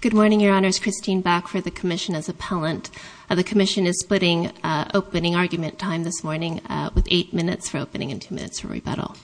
Good morning, Your Honors. Christine Bach for the Commission as Appellant. The Commission is splitting opening argument time this morning with eight minutes for opening and two minutes for rebuttal.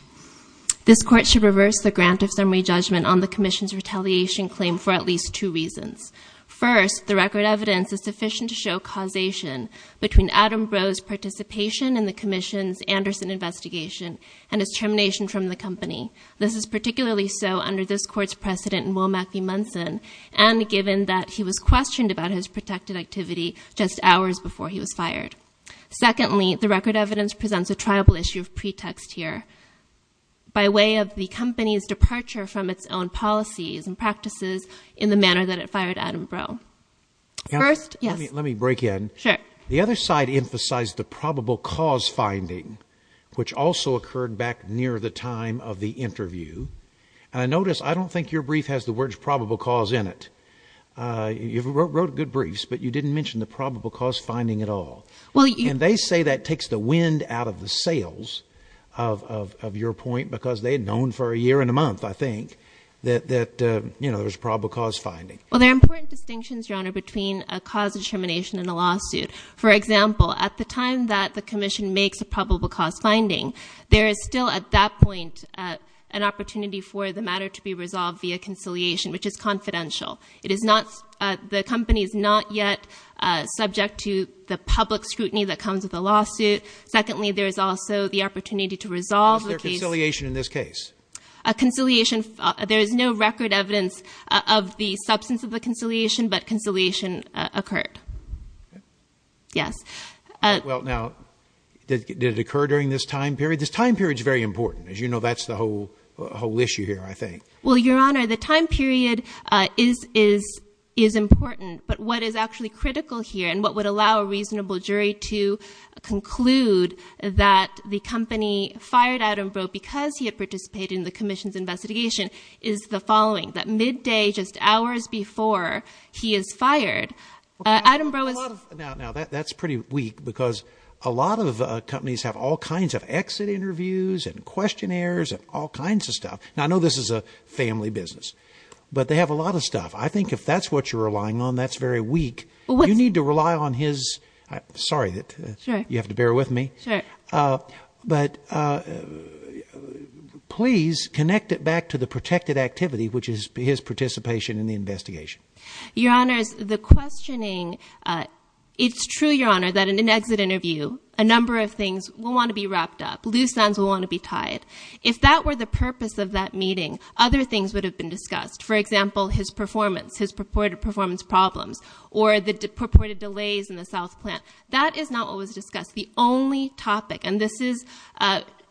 This Court should reverse the grant of summary judgment on the Commission's retaliation claim for at least two reasons. First, the record evidence is sufficient to show causation between Adam Breaux's participation in the Commission's Anderson investigation and his termination from the company. This is particularly so under this Court's precedent in Womack v. Munson and given that he was questioned about his protected activity just hours before he was fired. Secondly, the record evidence presents a triable issue of pretext here by way of the company's Adam Breaux. First, yes. Let me break in. Sure. The other side emphasized the probable cause finding, which also occurred back near the time of the interview, and I notice I don't think your brief has the words probable cause in it. You wrote good briefs, but you didn't mention the probable cause finding at all. And they say that takes the wind out of the sails of your point because they had known for a year and a month, I think, that there was probable cause finding. Well, there are important distinctions, Your Honor, between a cause determination and a lawsuit. For example, at the time that the Commission makes a probable cause finding, there is still at that point an opportunity for the matter to be resolved via conciliation, which is confidential. It is not, the company is not yet subject to the public scrutiny that comes with a lawsuit. Secondly, there is also the opportunity to resolve the case. Is there conciliation in this case? Conciliation, there is no record evidence of the substance of the conciliation, but conciliation occurred. Yes. Well, now, did it occur during this time period? This time period is very important. As you know, that's the whole issue here, I think. Well, Your Honor, the time period is important, but what is actually critical here and what would allow a reasonable jury to conclude that the company fired Adam Breaux because he had participated in the Commission's investigation is the following, that midday, just hours before he is fired, Adam Breaux is... Now, that's pretty weak because a lot of companies have all kinds of exit interviews and questionnaires and all kinds of stuff. Now, I know this is a family business, but they have a lot of stuff. I think if that's what you're relying on, that's very weak. You need to rely on his... Sorry, you have to bear with me. Sure. But please connect it back to the protected activity, which is his participation in the investigation. Your Honor, the questioning... It's true, Your Honor, that in an exit interview, a number of things will want to be wrapped up. Loose ends will want to be tied. If that were the purpose of that meeting, other things would have been discussed. For example, his performance, his purported performance problems, or the purported delays in the South Plant. That is not what was discussed. The only topic, and this is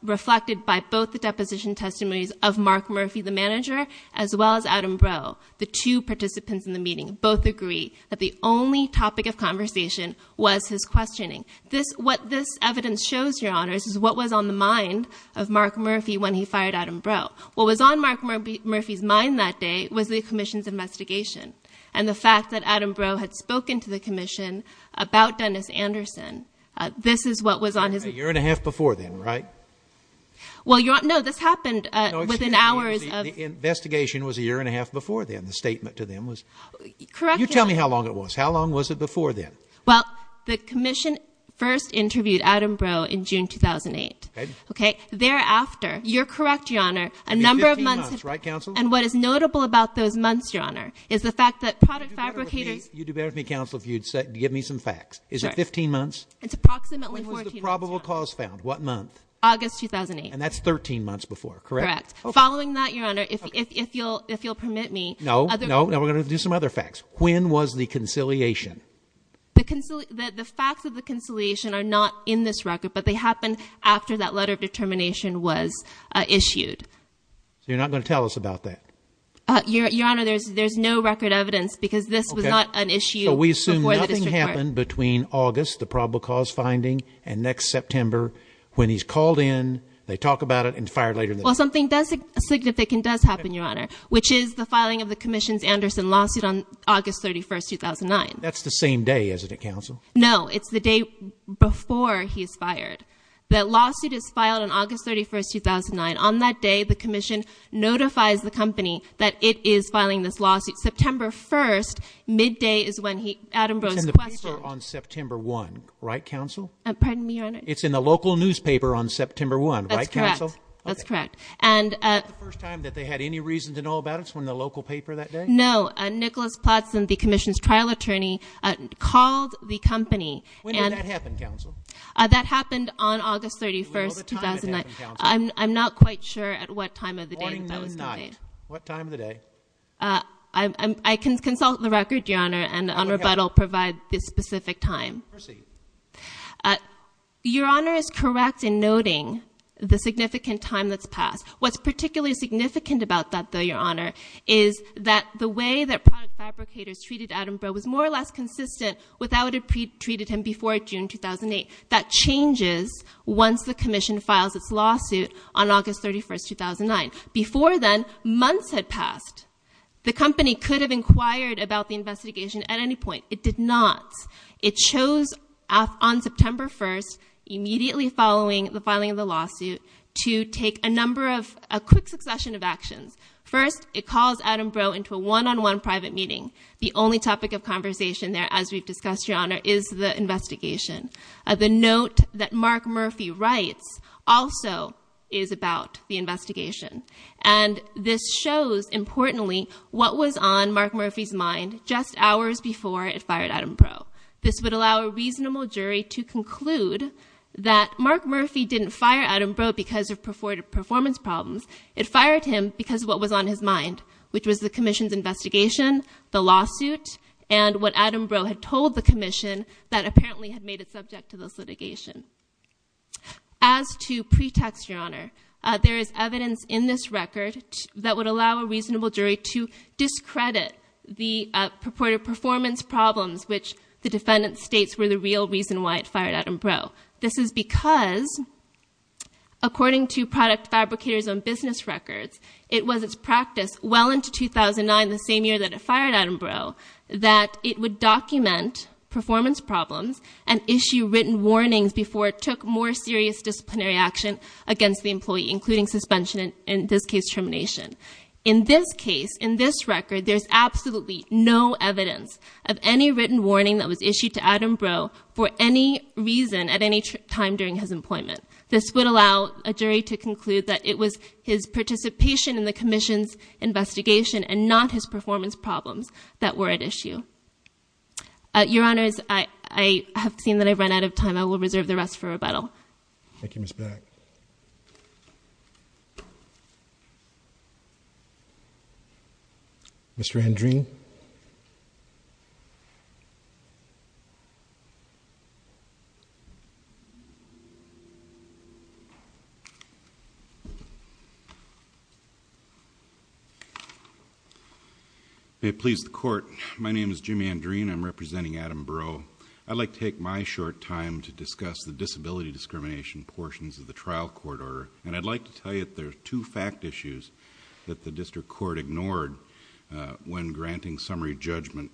reflected by both the deposition testimonies of Mark Murphy, the manager, as well as Adam Breaux, the two participants in the meeting, both agree that the only topic of conversation was his questioning. What this evidence shows, Your Honors, is what was on the mind of Mark Murphy when he fired Adam Breaux. What was on Mark Murphy's mind that day was the Commission's investigation, and the fact that Adam Breaux had spoken to the Commission about Dennis Anderson. This is what was on his... A year and a half before then, right? Well, Your Honor, no, this happened within hours of... No, excuse me. The investigation was a year and a half before then. The statement to them was... Correct, Your Honor. You tell me how long it was. How long was it before then? Well, the Commission first interviewed Adam Breaux in June 2008. Okay. Okay? Thereafter, you're correct, Your Honor, a number of months... It'd be 15 months, right, Counsel? And what is notable about those months, Your Honor, is the fact that product fabricators... You'd do better with me, Counsel, if you'd give me some facts. Is it 15 months? It's approximately 14 months, Your Honor. When was the probable cause found? What month? August 2008. And that's 13 months before, correct? Correct. Following that, Your Honor, if you'll permit me... No, no. Now we're going to do some other facts. When was the conciliation? The facts of the conciliation are not in this record, but they happened after that letter of determination was issued. So you're not going to tell us about that? Your Honor, there's no record evidence because this was not an issue before the district court. Okay. So we assume nothing happened between August, the probable cause finding, and next September when he's called in, they talk about it, and fired later in the day. Well, something significant does happen, Your Honor, which is the filing of the Commission's Anderson lawsuit on August 31st, 2009. That's the same day, isn't it, Counsel? No, it's the day before he's fired. That lawsuit is filed on August 31st, 2009. On that day, the Commission notifies the company that it is filing this lawsuit. September 1st, midday, is when Adam Brose questioned... It's in the paper on September 1, right, Counsel? Pardon me, Your Honor? It's in the local newspaper on September 1, right, Counsel? That's correct. Okay. That's correct. And... Is that the first time that they had any reason to know about it? It's in the local paper that day? No. Nicholas Plattson, the Commission's trial attorney, called the company and... When did that happen, Counsel? That happened on August 31st, 2009. Do you know the time it happened, Counsel? I'm not quite sure at what time of the day that that was made. Morning or night? What time of the day? I can consult the record, Your Honor, and on rebuttal provide the specific time. Proceed. Your Honor is correct in noting the significant time that's passed. What's particularly significant about that, though, Your Honor, is that the way that product fabricators treated Adam Brose was more or less consistent without it being treated him before June 2008. That changes once the Commission files its lawsuit on August 31st, 2009. Before then, months had passed. The company could have inquired about the investigation at any point. It did not. It chose on September 1st, immediately following the filing of the lawsuit, to take a number of... A quick succession of actions. First, it calls Adam Brose into a one-on-one private meeting. The only topic of conversation there, as we've discussed, Your Honor, is the investigation. The note that Mark Murphy writes also is about the investigation. And this shows, importantly, what was on Mark Murphy's mind just hours before it fired Adam Brose. This would allow a reasonable jury to conclude that Mark Murphy didn't fire Adam Brose because of performance problems. It fired him because of what was on his mind, which was the Commission's investigation, the lawsuit, and what Adam Brose had told the Commission that apparently had made it subject to this litigation. As to pretext, Your Honor, there is evidence in this record that would allow a reasonable jury to discredit the purported performance problems, which the defendant states were the real reason why it fired Adam Brose. This is because, according to product fabricators on business records, it was its practice well into 2009, the same year that it fired Adam Brose, that it would document performance problems and issue written warnings before it took more serious disciplinary action against the employee, including suspension and, in this case, termination. In this case, in this record, there's absolutely no evidence of any written warning that was issued to Adam Brose for any reason at any time during his employment. This would allow a jury to conclude that it was his participation in the Commission's investigation and not his performance problems that were at issue. Your Honors, I have seen that I've run out of time. I will reserve the rest for rebuttal. Thank you, Ms. Black. Mr. Hendreen? May it please the Court, my name is Jimmy Hendreen. I'm representing Adam Brose. I'd like to take my short time to discuss the disability discrimination portions of the trial court order, and I'd like to tell you that there are two fact issues that the District Court ignored when granting summary judgment.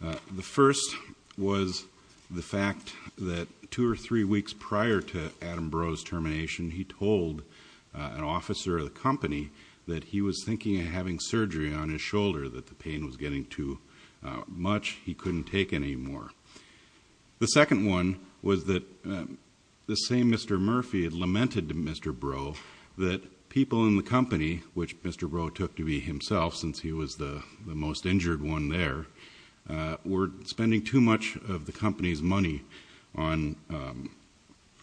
The first was the fact that two or three weeks prior to Adam Brose's termination, he told an officer of the company that he was thinking of having surgery on his shoulder, that the pain was getting too much, he couldn't take any more. The second one was that the same Mr. Murphy had lamented to Mr. Brose that people in the industry were spending too much of the company's money on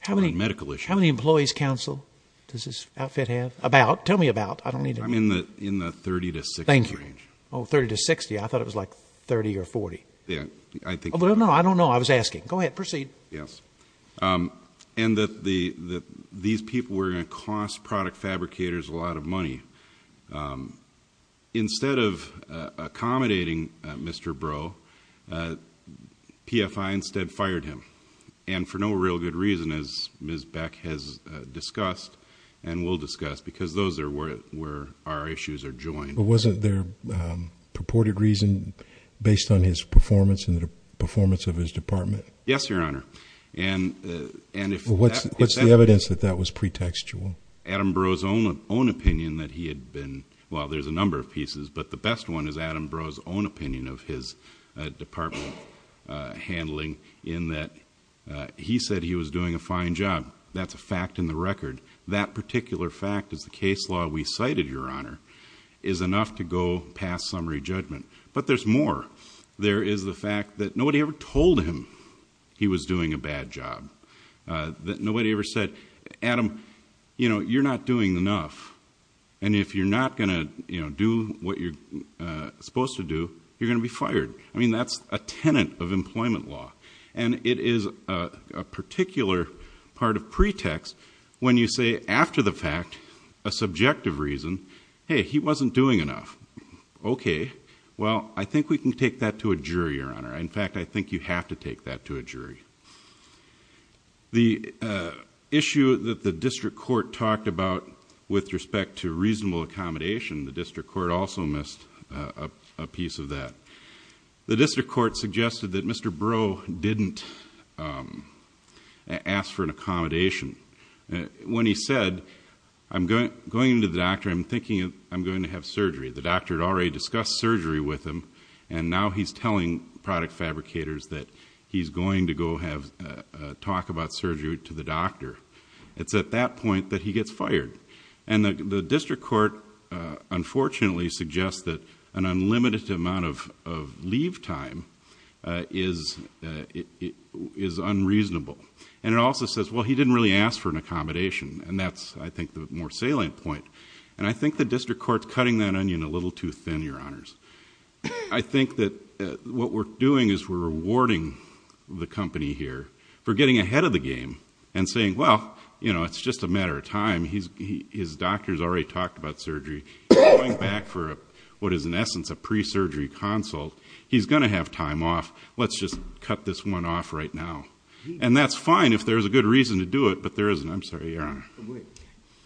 medical issues. How many employees, counsel, does this outfit have? About. Tell me about. I don't need to know. I'm in the 30 to 60 range. Thank you. Oh, 30 to 60. I thought it was like 30 or 40. No, I don't know. I was asking. Proceed. Yes. And that these people were going to cost product fabricators a lot of money. Instead of accommodating Mr. Brose, PFI instead fired him. And for no real good reason, as Ms. Beck has discussed and will discuss, because those are where our issues are joined. But wasn't there purported reason based on his performance and the performance of his department? Yes, Your Honor. And what's the evidence that that was pretextual? Adam Brose's own opinion that he had been, well, there's a number of pieces, but the best one is Adam Brose's own opinion of his department handling in that he said he was doing a fine job. That's a fact in the record. That particular fact is the case law we cited, Your Honor, is enough to go past summary judgment. But there's more. There is the fact that nobody ever told him he was doing a bad job. Nobody ever said, Adam, you know, you're not doing enough. And if you're not going to do what you're supposed to do, you're going to be fired. I mean, that's a tenant of employment law. And it is a particular part of pretext when you say after the fact, a subjective reason, hey, he wasn't doing enough. Okay, well, I think we can take that to a jury, Your Honor. The issue that the district court talked about with respect to reasonable accommodation, the district court also missed a piece of that. The district court suggested that Mr. Brose didn't ask for an accommodation. When he said, I'm going to the doctor, I'm thinking I'm going to have surgery. The doctor had already discussed surgery with him, and now he's telling product fabricators that he's going to go have a talk about surgery to the doctor. It's at that point that he gets fired. And the district court unfortunately suggests that an unlimited amount of leave time is unreasonable. And it also says, well, he didn't really ask for an accommodation. And that's, I think, the more salient point. And I think the district court's cutting that onion a little too thin, Your Honors. I think that what we're doing is we're rewarding the company here for getting ahead of the game and saying, well, you know, it's just a matter of time. His doctor's already talked about surgery. He's going back for what is in essence a pre-surgery consult. He's going to have time off. Let's just cut this one off right now. And that's fine if there's a good reason to do it, but there isn't. I'm sorry, Your Honor. Wait.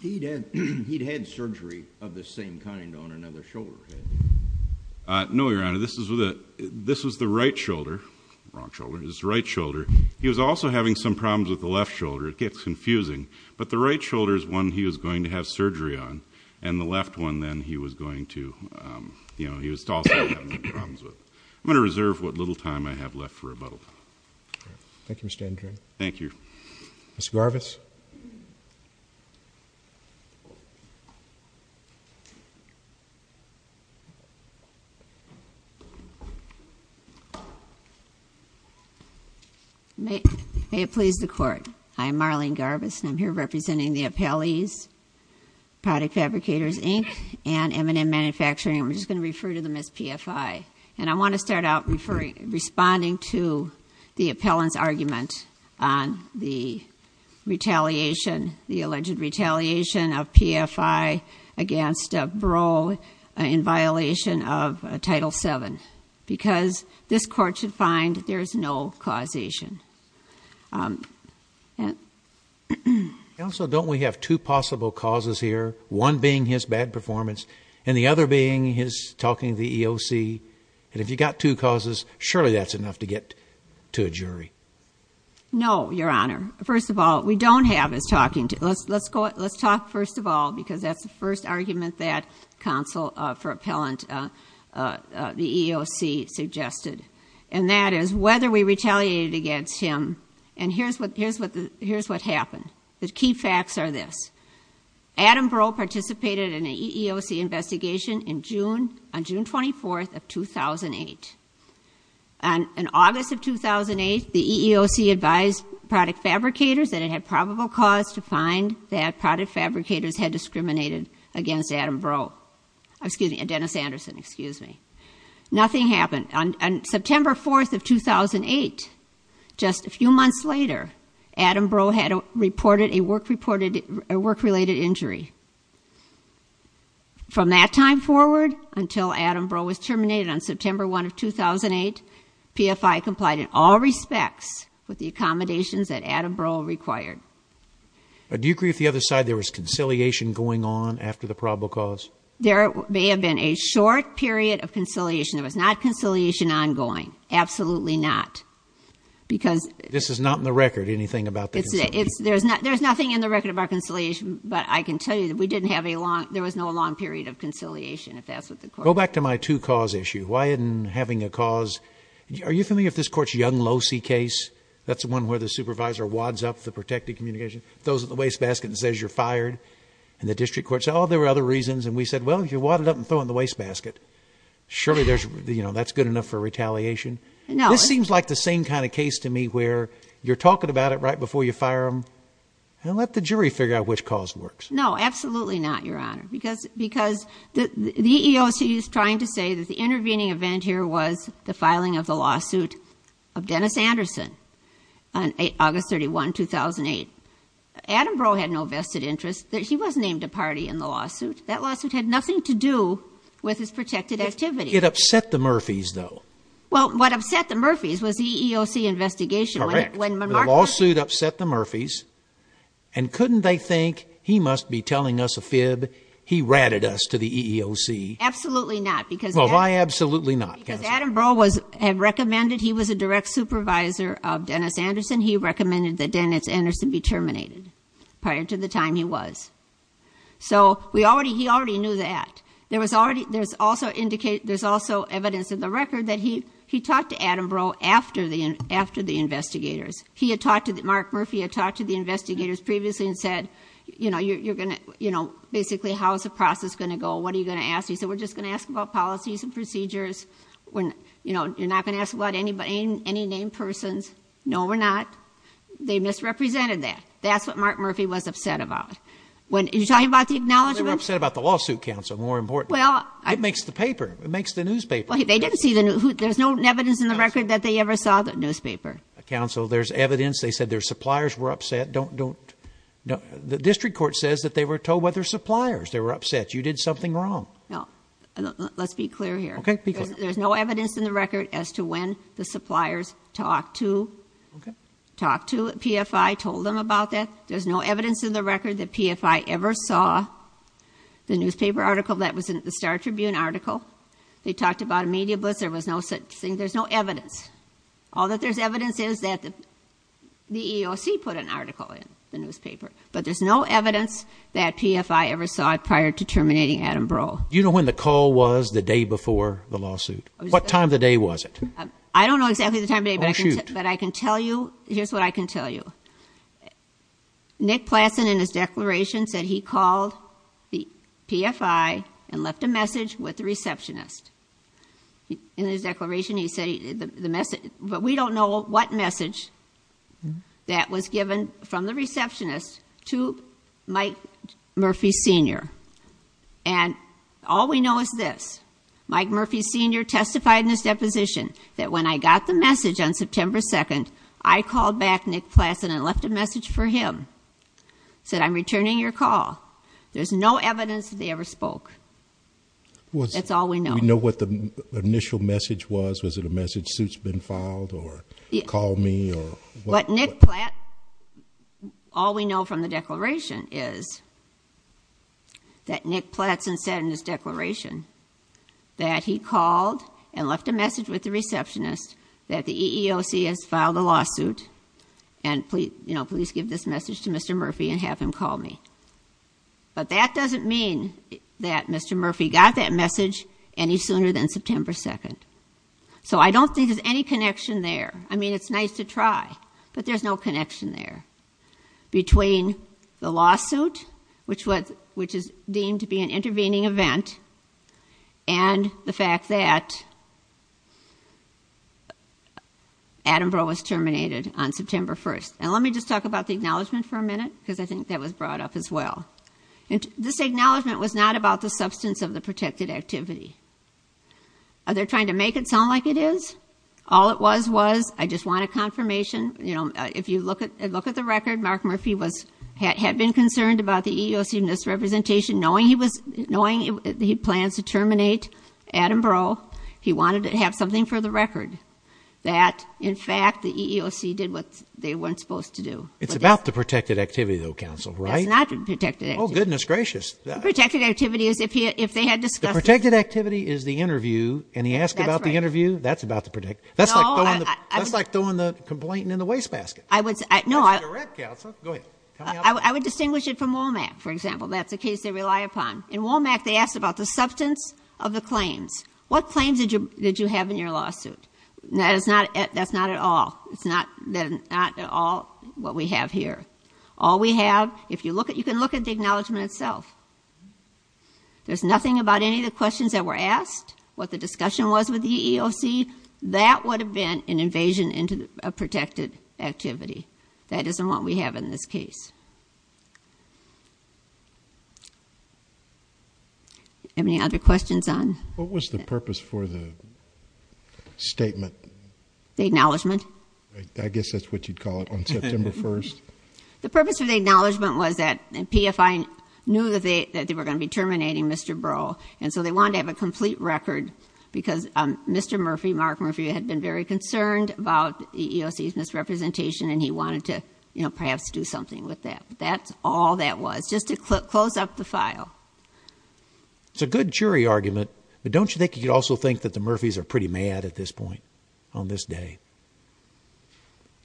He'd had surgery of the same kind on another shoulder, had he? No, Your Honor. This was the right shoulder. Wrong shoulder. It was the right shoulder. He was also having some problems with the left shoulder. It gets confusing. But the right shoulder is one he was going to have surgery on. And the left one then he was going to, you know, he was also having problems with. I'm going to reserve what little time I have left for rebuttal. Thank you, Mr. Andrew. Thank you. Ms. Garbus. May it please the Court. I'm Marlene Garbus, and I'm here representing the appellees, Product Fabricators, Inc., and M&M Manufacturing. I'm just going to refer to them as PFI. And I want to start out responding to the appellant's argument on the retaliation, the alleged retaliation of PFI against Breaux in violation of Title VII, because this Court should find there's no causation. Counsel, don't we have two possible causes here, one being his bad performance and the other being his talking to the EEOC? And if you've got two causes, surely that's enough to get to a jury. No, Your Honor. First of all, we don't have his talking. Let's talk first of all, because that's the first argument that counsel for appellant, the EEOC, suggested. And that is whether we retaliated against him. And here's what happened. The key facts are this. Adam Breaux participated in an EEOC investigation on June 24th of 2008. On August of 2008, the EEOC advised Product Fabricators that it had probable cause to find that Product Fabricators had discriminated against Adam Breaux. Excuse me, Dennis Anderson, excuse me. Nothing happened. On September 4th of 2008, just a few months later, Adam Breaux had reported a work-related injury. From that time forward, until Adam Breaux was terminated on September 1st of 2008, PFI complied in all respects with the accommodations that Adam Breaux required. Do you agree with the other side, there was conciliation going on after the probable cause? There may have been a short period of conciliation. There was not conciliation ongoing. Absolutely not. Because... This is not in the record, anything about the conciliation. There's nothing in the record about conciliation, but I can tell you that we didn't have a long, there was no long period of conciliation, if that's what the court... Go back to my two-cause issue. Why isn't having a cause... Are you familiar with this court's Young-Losey case? That's the one where the supervisor wads up the protected communication, throws it in the wastebasket and says, you're fired. And the district court said, oh, there were other reasons, and we said, well, you wad it up and throw it in the wastebasket. Surely there's, you know, that's good enough for retaliation. This seems like the same kind of case to me where you're talking about it right before you fire them, and let the jury figure out which cause works. No, absolutely not, Your Honor. Because the EEOC is trying to say that the intervening event here was the filing of the lawsuit of Dennis Anderson on August 31, 2008. Adam Breaux had no vested interest. He was named a party in the lawsuit. That lawsuit had nothing to do with his protected activity. It upset the Murphys, though. Well, what upset the Murphys was the EEOC investigation. Correct. The lawsuit upset the Murphys. And couldn't they think, he must be telling us a fib, he ratted us to the EEOC? Absolutely not. Well, why absolutely not, counsel? Because Adam Breaux had recommended, he was a direct supervisor of Dennis Anderson. He recommended that Dennis Anderson be terminated prior to the time he was. So he already knew that. There's also evidence in the record that he talked to Adam Breaux after the investigators. Mark Murphy had talked to the investigators previously and said, basically, how is the process going to go? What are you going to ask? He said, we're just going to ask about policies and procedures. You're not going to ask about any named persons. No, we're not. They misrepresented that. That's what Mark Murphy was upset about. Are you talking about the acknowledgment? They were upset about the lawsuit, counsel, more important. It makes the paper. It makes the newspaper. There's no evidence in the record that they ever saw the newspaper. Counsel, there's evidence. They said their suppliers were upset. The district court says that they were told by their suppliers they were upset. You did something wrong. No, let's be clear here. There's no evidence in the record as to when the suppliers talked to PFI, told them about that. There's no evidence in the record that PFI ever saw the newspaper article that was in the Star Tribune article. They talked about a media blitz. There was no such thing. There's no evidence. All that there's evidence is that the EEOC put an article in the newspaper. But there's no evidence that PFI ever saw it prior to terminating Adam Breaux. Do you know when the call was the day before the lawsuit? What time of the day was it? I don't know exactly the time of day, but I can tell you. Here's what I can tell you. Nick Plassen in his declaration said he called the PFI and left a message with the receptionist. In his declaration, he said, but we don't know what message that was given from the receptionist to Mike Murphy Sr. And all we know is this. Mike Murphy Sr. testified in his deposition that when I got the message on September 2nd, I called back Nick Plassen and left a message for him. I said, I'm returning your call. There's no evidence that they ever spoke. That's all we know. Do you know what the initial message was? Was it a message, suit's been filed, or call me, or what? But Nick Plassen, all we know from the declaration is that Nick Plassen said in his declaration that he called and left a message with the receptionist that the EEOC has filed a lawsuit and please give this message to Mr. Murphy and have him call me. But that doesn't mean that Mr. Murphy got that message any sooner than September 2nd. So I don't think there's any connection there. I mean, it's nice to try, but there's no connection there between the lawsuit, which is deemed to be an intervening event, and the fact that Attenborough was terminated on September 1st. And let me just talk about the acknowledgement for a minute, because I think that was brought up as well. This acknowledgement was not about the substance of the protected activity. Are they trying to make it sound like it is? All it was was, I just want a confirmation. If you look at the record, Mark Murphy had been concerned about the EEOC misrepresentation. Knowing he plans to terminate Attenborough, he wanted to have something for the record that, in fact, the EEOC did what they weren't supposed to do. It's about the protected activity, though, counsel, right? It's not the protected activity. Oh, goodness gracious. The protected activity is if they had discussed it. The protected activity is the interview, and he asked about the interview. That's right. That's about the protected activity. That's like throwing the complaint in the wastebasket. That's a direct counsel. Go ahead. I would distinguish it from WOMAC, for example. That's a case they rely upon. In WOMAC, they asked about the substance of the claims. What claims did you have in your lawsuit? That's not at all. It's not at all what we have here. All we have, if you look at, you can look at the acknowledgment itself. There's nothing about any of the questions that were asked, what the discussion was with the EEOC. That would have been an invasion into a protected activity. That isn't what we have in this case. Any other questions on that? What was the purpose for the statement? The acknowledgment? I guess that's what you'd call it on September 1st. The purpose of the acknowledgment was that PFI knew that they were going to be terminating Mr. Burrell. They wanted to have a complete record because Mr. Murphy, Mark Murphy, had been very concerned about EEOC's misrepresentation and he wanted to perhaps do something with that. That's all that was. Just to close up the file. It's a good jury argument, but don't you think you could also think that the Murphys are pretty mad at this point on this day?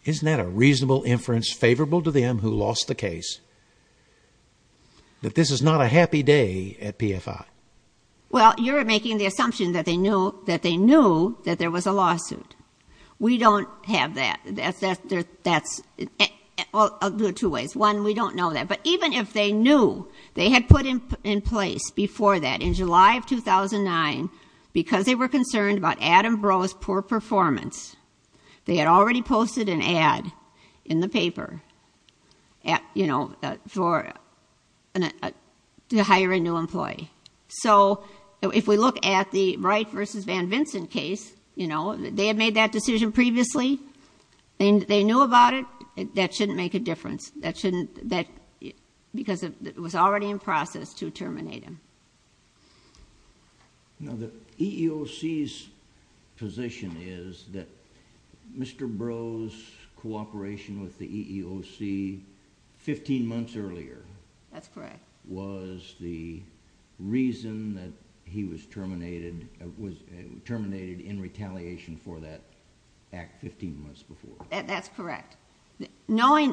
Isn't that a reasonable inference favorable to them who lost the case that this is not a happy day at PFI? Well, you're making the assumption that they knew that there was a lawsuit. We don't have that. Well, there are two ways. One, we don't know that, but even if they knew they had put in place before that in July of 2009 because they were concerned about Adam Burrell's poor performance, they had already posted an ad in the paper for to hire a new employee. If we look at the Wright v. Van Vincent case, they had made that decision previously and they knew about it. That shouldn't make a difference because it was already in process to terminate him. The EEOC's position is that Mr. Burrell's cooperation with the EEOC 15 months earlier was the reason that he was terminated in retaliation for that act 15 months before. That's correct. We're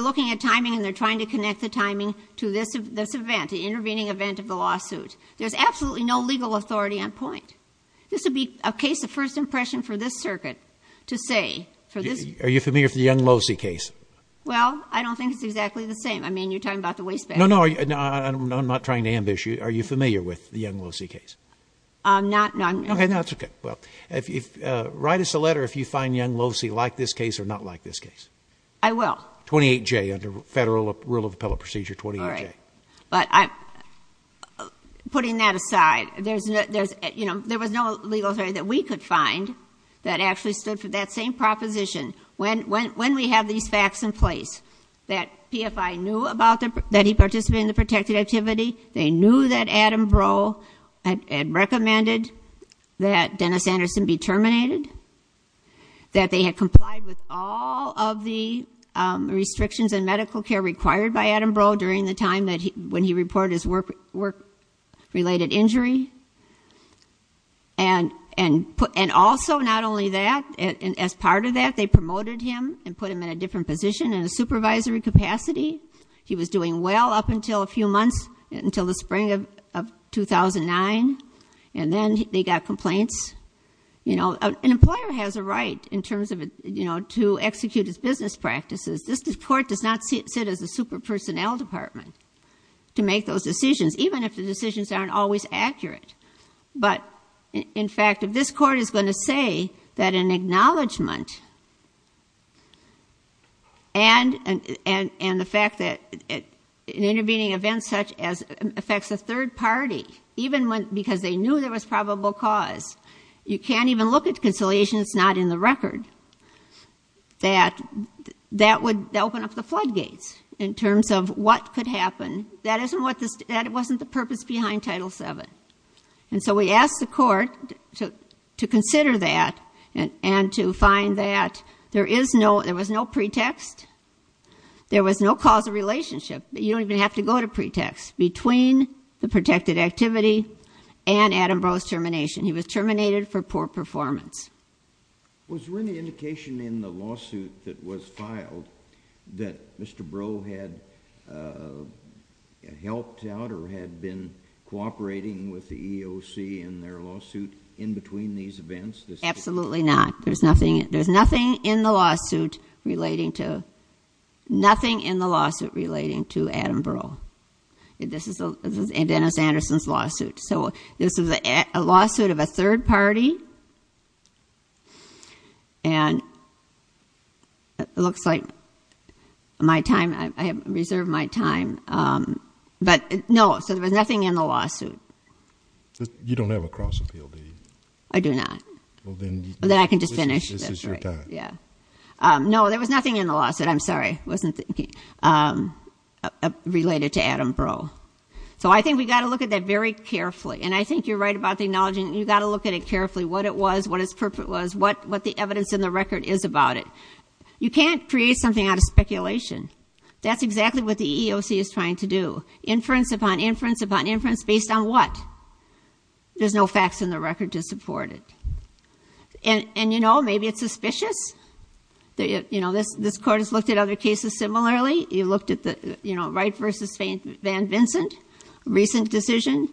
looking at timing and they're trying to connect the timing to this event, the intervening event of the lawsuit. There's absolutely no legal authority on point. This would be a case of first impression for this circuit to say for this... Are you familiar with the Young-Losey case? Well, I don't think it's exactly the same. I mean, you're talking about the waste bag. No, no, I'm not trying to ambush you. Are you familiar with the Young-Losey case? I'm not. No, I'm not. Okay, that's okay. Well, write us a letter if you find Young-Losey like this case or not like this case. I will. 28-J under federal rule of law. Putting that aside, there was no legal authority that we could find that actually stood for that same proposition. When we have these facts in place that PFI knew that he participated in the protected activity, they knew that Adam Breaux had recommended that Dennis Anderson be terminated, that they had complied with all of the restrictions and medical care required by Adam Breaux during the time when he reported his work-related injury. And also, not only that, as part of that, they promoted him and put him in a different position in a supervisory capacity. He was doing well up until a few months, until the spring of 2009. And then they got complaints. An employer has a right in terms of to execute his business practices. This court does not sit as a super-personnel department to make those decisions, even if the decisions aren't always accurate. But, in fact, if this court is going to say that an acknowledgment and the fact that intervening events such as affects a third party, because they knew there was probable cause, you can't even look at conciliation that's not in the record. That would open up the floodgates in terms of what could happen. That wasn't the purpose behind Title VII. And so we asked the court to consider that and to find that there was no pretext. There was no causal relationship. You don't even have to go to pretext. Between the protected activity and Adam Breaux's termination. He was terminated for poor performance. Was there any indication in the lawsuit that was filed that Mr. Breaux had helped out or had been cooperating with the EEOC in their lawsuit in between these events? Absolutely not. There's nothing in the lawsuit relating to Adam Breaux. This is Dennis Anderson's lawsuit. This is a lawsuit of a and it looks like my time, I have reserved my time. But no, so there was nothing in the lawsuit. You don't have a cross appeal deed. I do not. Then I can just finish. This is your time. No, there was nothing in the lawsuit. I'm sorry. I wasn't thinking. Related to Adam Breaux. So I think we've got to look at that very carefully. And I think you're right about acknowledging you've got to look at it carefully, what it was, what its purpose was, what the evidence in the record is about it. You can't create something out of speculation. That's exactly what the EEOC is trying to do. Inference upon inference upon inference based on what? There's no facts in the record to support it. And you know, maybe it's suspicious. This court has looked at other cases similarly. You looked at Wright v. Van Vincent. Recent decision.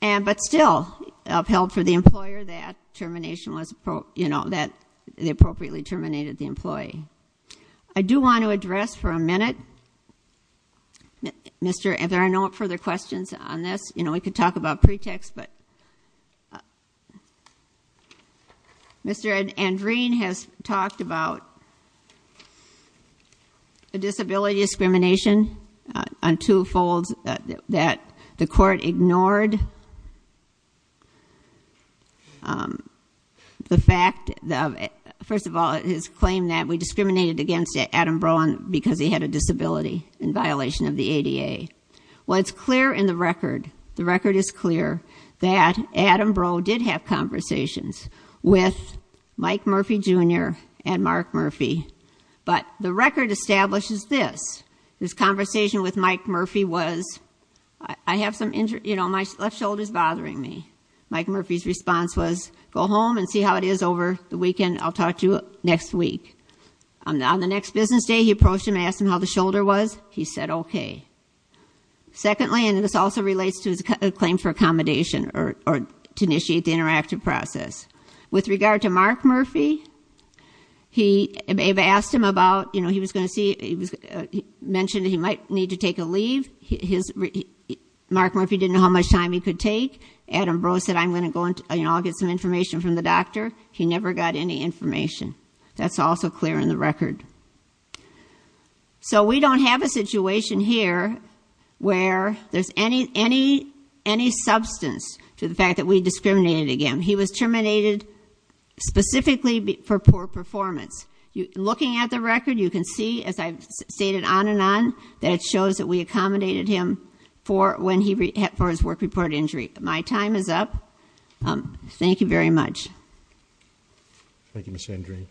But still upheld for the employer that termination was appropriately terminated the employee. I do want to address for a minute if there are no further questions on this. We could talk about pretext, but Mr. Andreen has talked about a disability discrimination on two the court ignored the fact first of all, his claim that we discriminated against Adam Breaux because he had a disability in violation of the ADA. What's clear in the record, the record is clear that Adam Breaux did have conversations with Mike Murphy Jr. and Mark Murphy. But the record establishes this. This conversation with Mike Murphy. He said, I have some left shoulders bothering me. Mike Murphy's response was go home and see how it is over the weekend. I'll talk to you next week. On the next business day he approached him and asked him how the shoulder was. He said okay. Secondly, and this also relates to his claim for accommodation or to initiate the interactive process. With regard to Mark Murphy, he asked him about, he was going to see mentioned he might need to take a leave. Mark Murphy didn't know how much time he could take. Adam Breaux said I'll get some information from the doctor. He never got any information. That's also clear in the record. So we don't have a situation here where there's any substance to the fact that we discriminated against him. He was terminated specifically for poor performance. Looking at the record you can see, as I've stated on and on, that it shows that we accommodated him for his work report injury. My time is up. Thank you very much. Thank you, Ms. Andreen.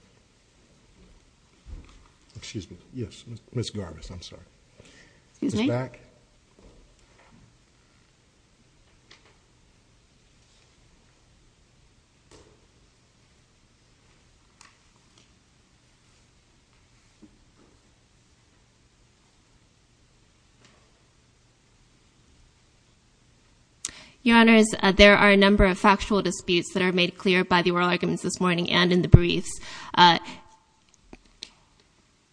Excuse me. Ms. Garbus, I'm sorry. Excuse me. Your Honours, there are a number of factual disputes that are made clear by the oral arguments this morning and in the briefs.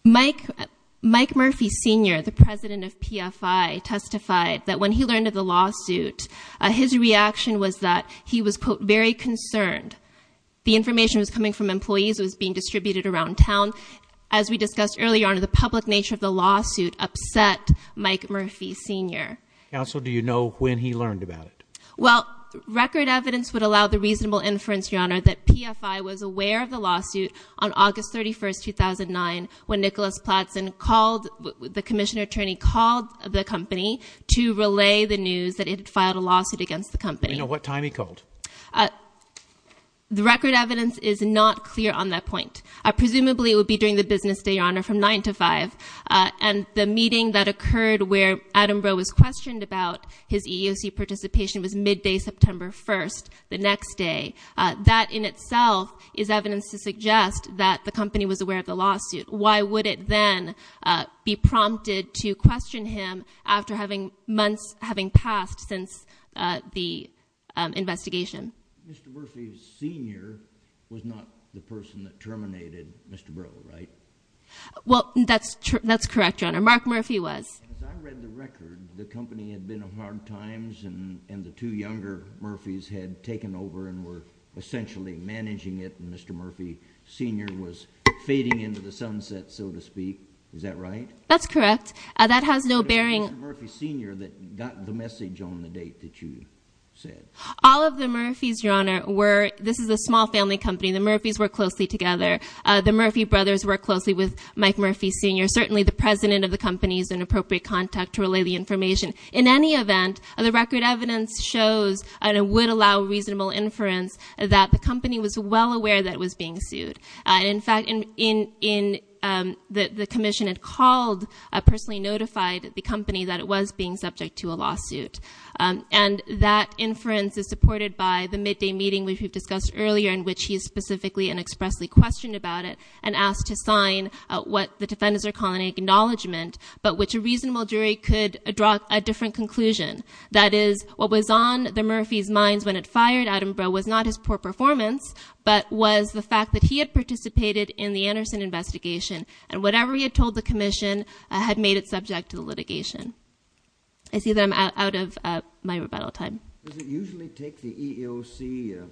Mike Murphy Sr., the President of PFI, testified that when he learned of the lawsuit, his reaction was that who was being distributed to him. He said, quote, he was very concerned. As we discussed earlier, Your Honour, the public nature of the lawsuit upset Mike Murphy Sr. Counsel, do you know when he learned about it? Well, record evidence would allow the reasonable inference, Your Honour, that PFI was aware of the lawsuit on August 31, 2009 when Nicholas Platson called the Commissioner Attorney called the company to relay the news that it had filed a lawsuit against the company. Do we know what time he called? The record evidence is not clear on that point. Presumably, it would be during the business day, Your Honour, from 9 to 5, and the meeting that occurred where Adam Breaux was questioned about his EEOC participation was midday September 1st, the next day. That in itself is evidence to suggest that the company was aware of the lawsuit. Why would it then be prompted to question him after having months, having passed since the investigation? Mr. Murphy Sr. was not the person that terminated Mr. Breaux, right? Well, that's correct, Your Honour. Mark Murphy was. As I read the record, the company had been in hard times, and the two younger Murphys had taken over and were essentially managing it, and Mr. Murphy Sr. was fading into the sunset, so to speak. Is that right? That's correct. That has no bearing... But it was Mr. Murphy Sr. that got the message on the date that you said. All of the Murphys, Your Honour, were... This is a small family company. The Murphys work closely together. The Murphy brothers work closely with Mike Murphy Sr. Certainly the president of the company is an appropriate contact to relay the information. In any event, the record evidence shows, and it would allow reasonable inference, that the company was well aware that it was being sued. In fact, the commission had called, personally notified the company that it was being subject to a lawsuit. And that inference is supported by the midday meeting we discussed earlier, in which he specifically and expressly questioned about it, and asked to sign what the defendants are calling an acknowledgement, but which a reasonable jury could draw a different conclusion. That is, what was on the Murphys' minds when it fired Attenborough was not his poor performance, but was the fact that he had participated in the Anderson investigation, and whatever he had told the commission had made it subject to the jury. I see that I'm out of my rebuttal time. Does it usually take the EEOC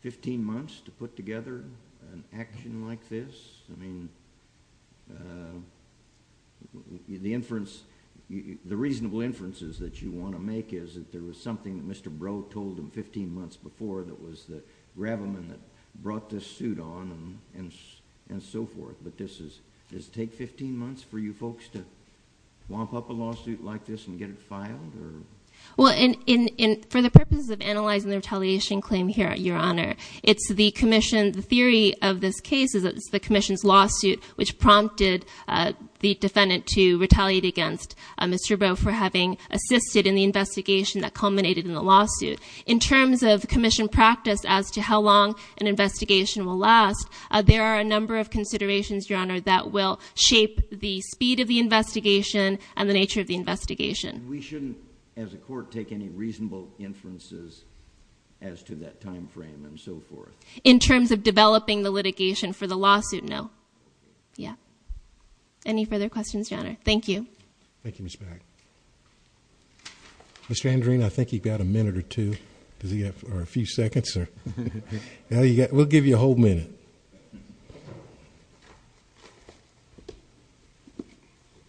15 months to put together an action like this? I mean, the inference, the reasonable inferences that you want to make is that there was something that Mr. Brough told him 15 months before that was the grabberman that brought this suit on, and so forth. But this is, does it take 15 months for you folks to wamp up a lawsuit like this and get it filed? Well, for the purposes of analyzing the retaliation claim here, Your Honor, it's the commission's theory of this case is that it's the commission's lawsuit which prompted the defendant to retaliate against Mr. Brough for having assisted in the investigation that culminated in the lawsuit. In terms of commission practice as to how long an investigation will last, there are a number of considerations, Your Honor, that will shape the speed of the investigation and the nature of the investigation. We shouldn't, as a court, take any reasonable inferences as to that time frame and so forth. In terms of developing the litigation for the lawsuit, no. Yeah. Any further questions, Your Honor? Thank you. Thank you, Ms. Mack. Mr. Andrean, I think you've got a minute or two, or a few seconds. We'll give you a whole minute.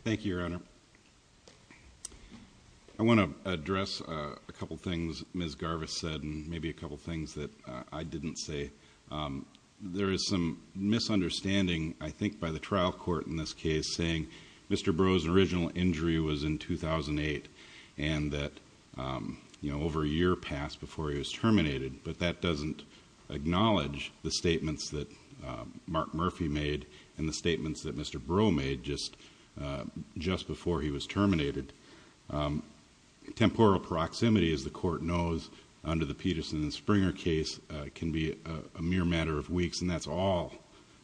Thank you, Your Honor. I want to address a couple things Ms. Garvis said and maybe a couple things that I didn't say. There is some misunderstanding, I think, by the trial court in this case saying Mr. Brough's original injury was in 2008 and that over a year passed before he was terminated, but that doesn't acknowledge the statements that Mr. Brough made just before he was terminated. Temporal proximity, as the court knows, under the Peterson and Springer case, can be a mere matter of weeks and that's all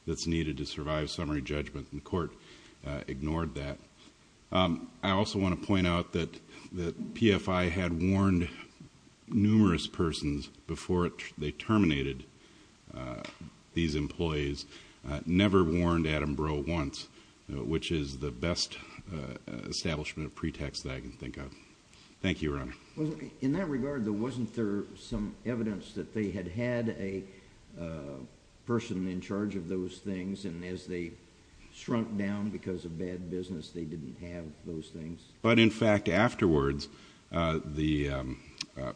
that's needed to survive summary judgment. The court ignored that. I also want to point out that PFI had warned numerous persons before they terminated these employees. It never warned Adam Brough once, which is the best establishment of pretext that I can think of. Thank you, Your Honor. In that regard, though, wasn't there some evidence that they had had a person in charge of those things and as they shrunk down because of bad business, they didn't have those things? But, in fact, afterwards the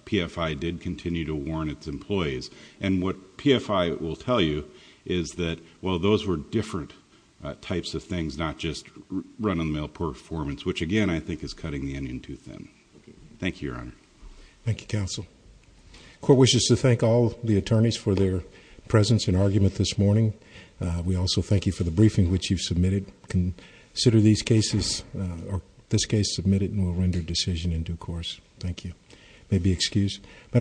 PFI did continue to warn its employees, and what PFI will tell you is that while those were different types of things, not just run-of-the-mill performance, which, again, I think is cutting the onion too thin. Thank you, Your Honor. Thank you, Counsel. The court wishes to thank all the attorneys for their presence and argument this morning. We also thank you for the briefing which you've submitted. Consider these cases, this case submitted, and we'll render a decision in due course. Thank you. May be excused.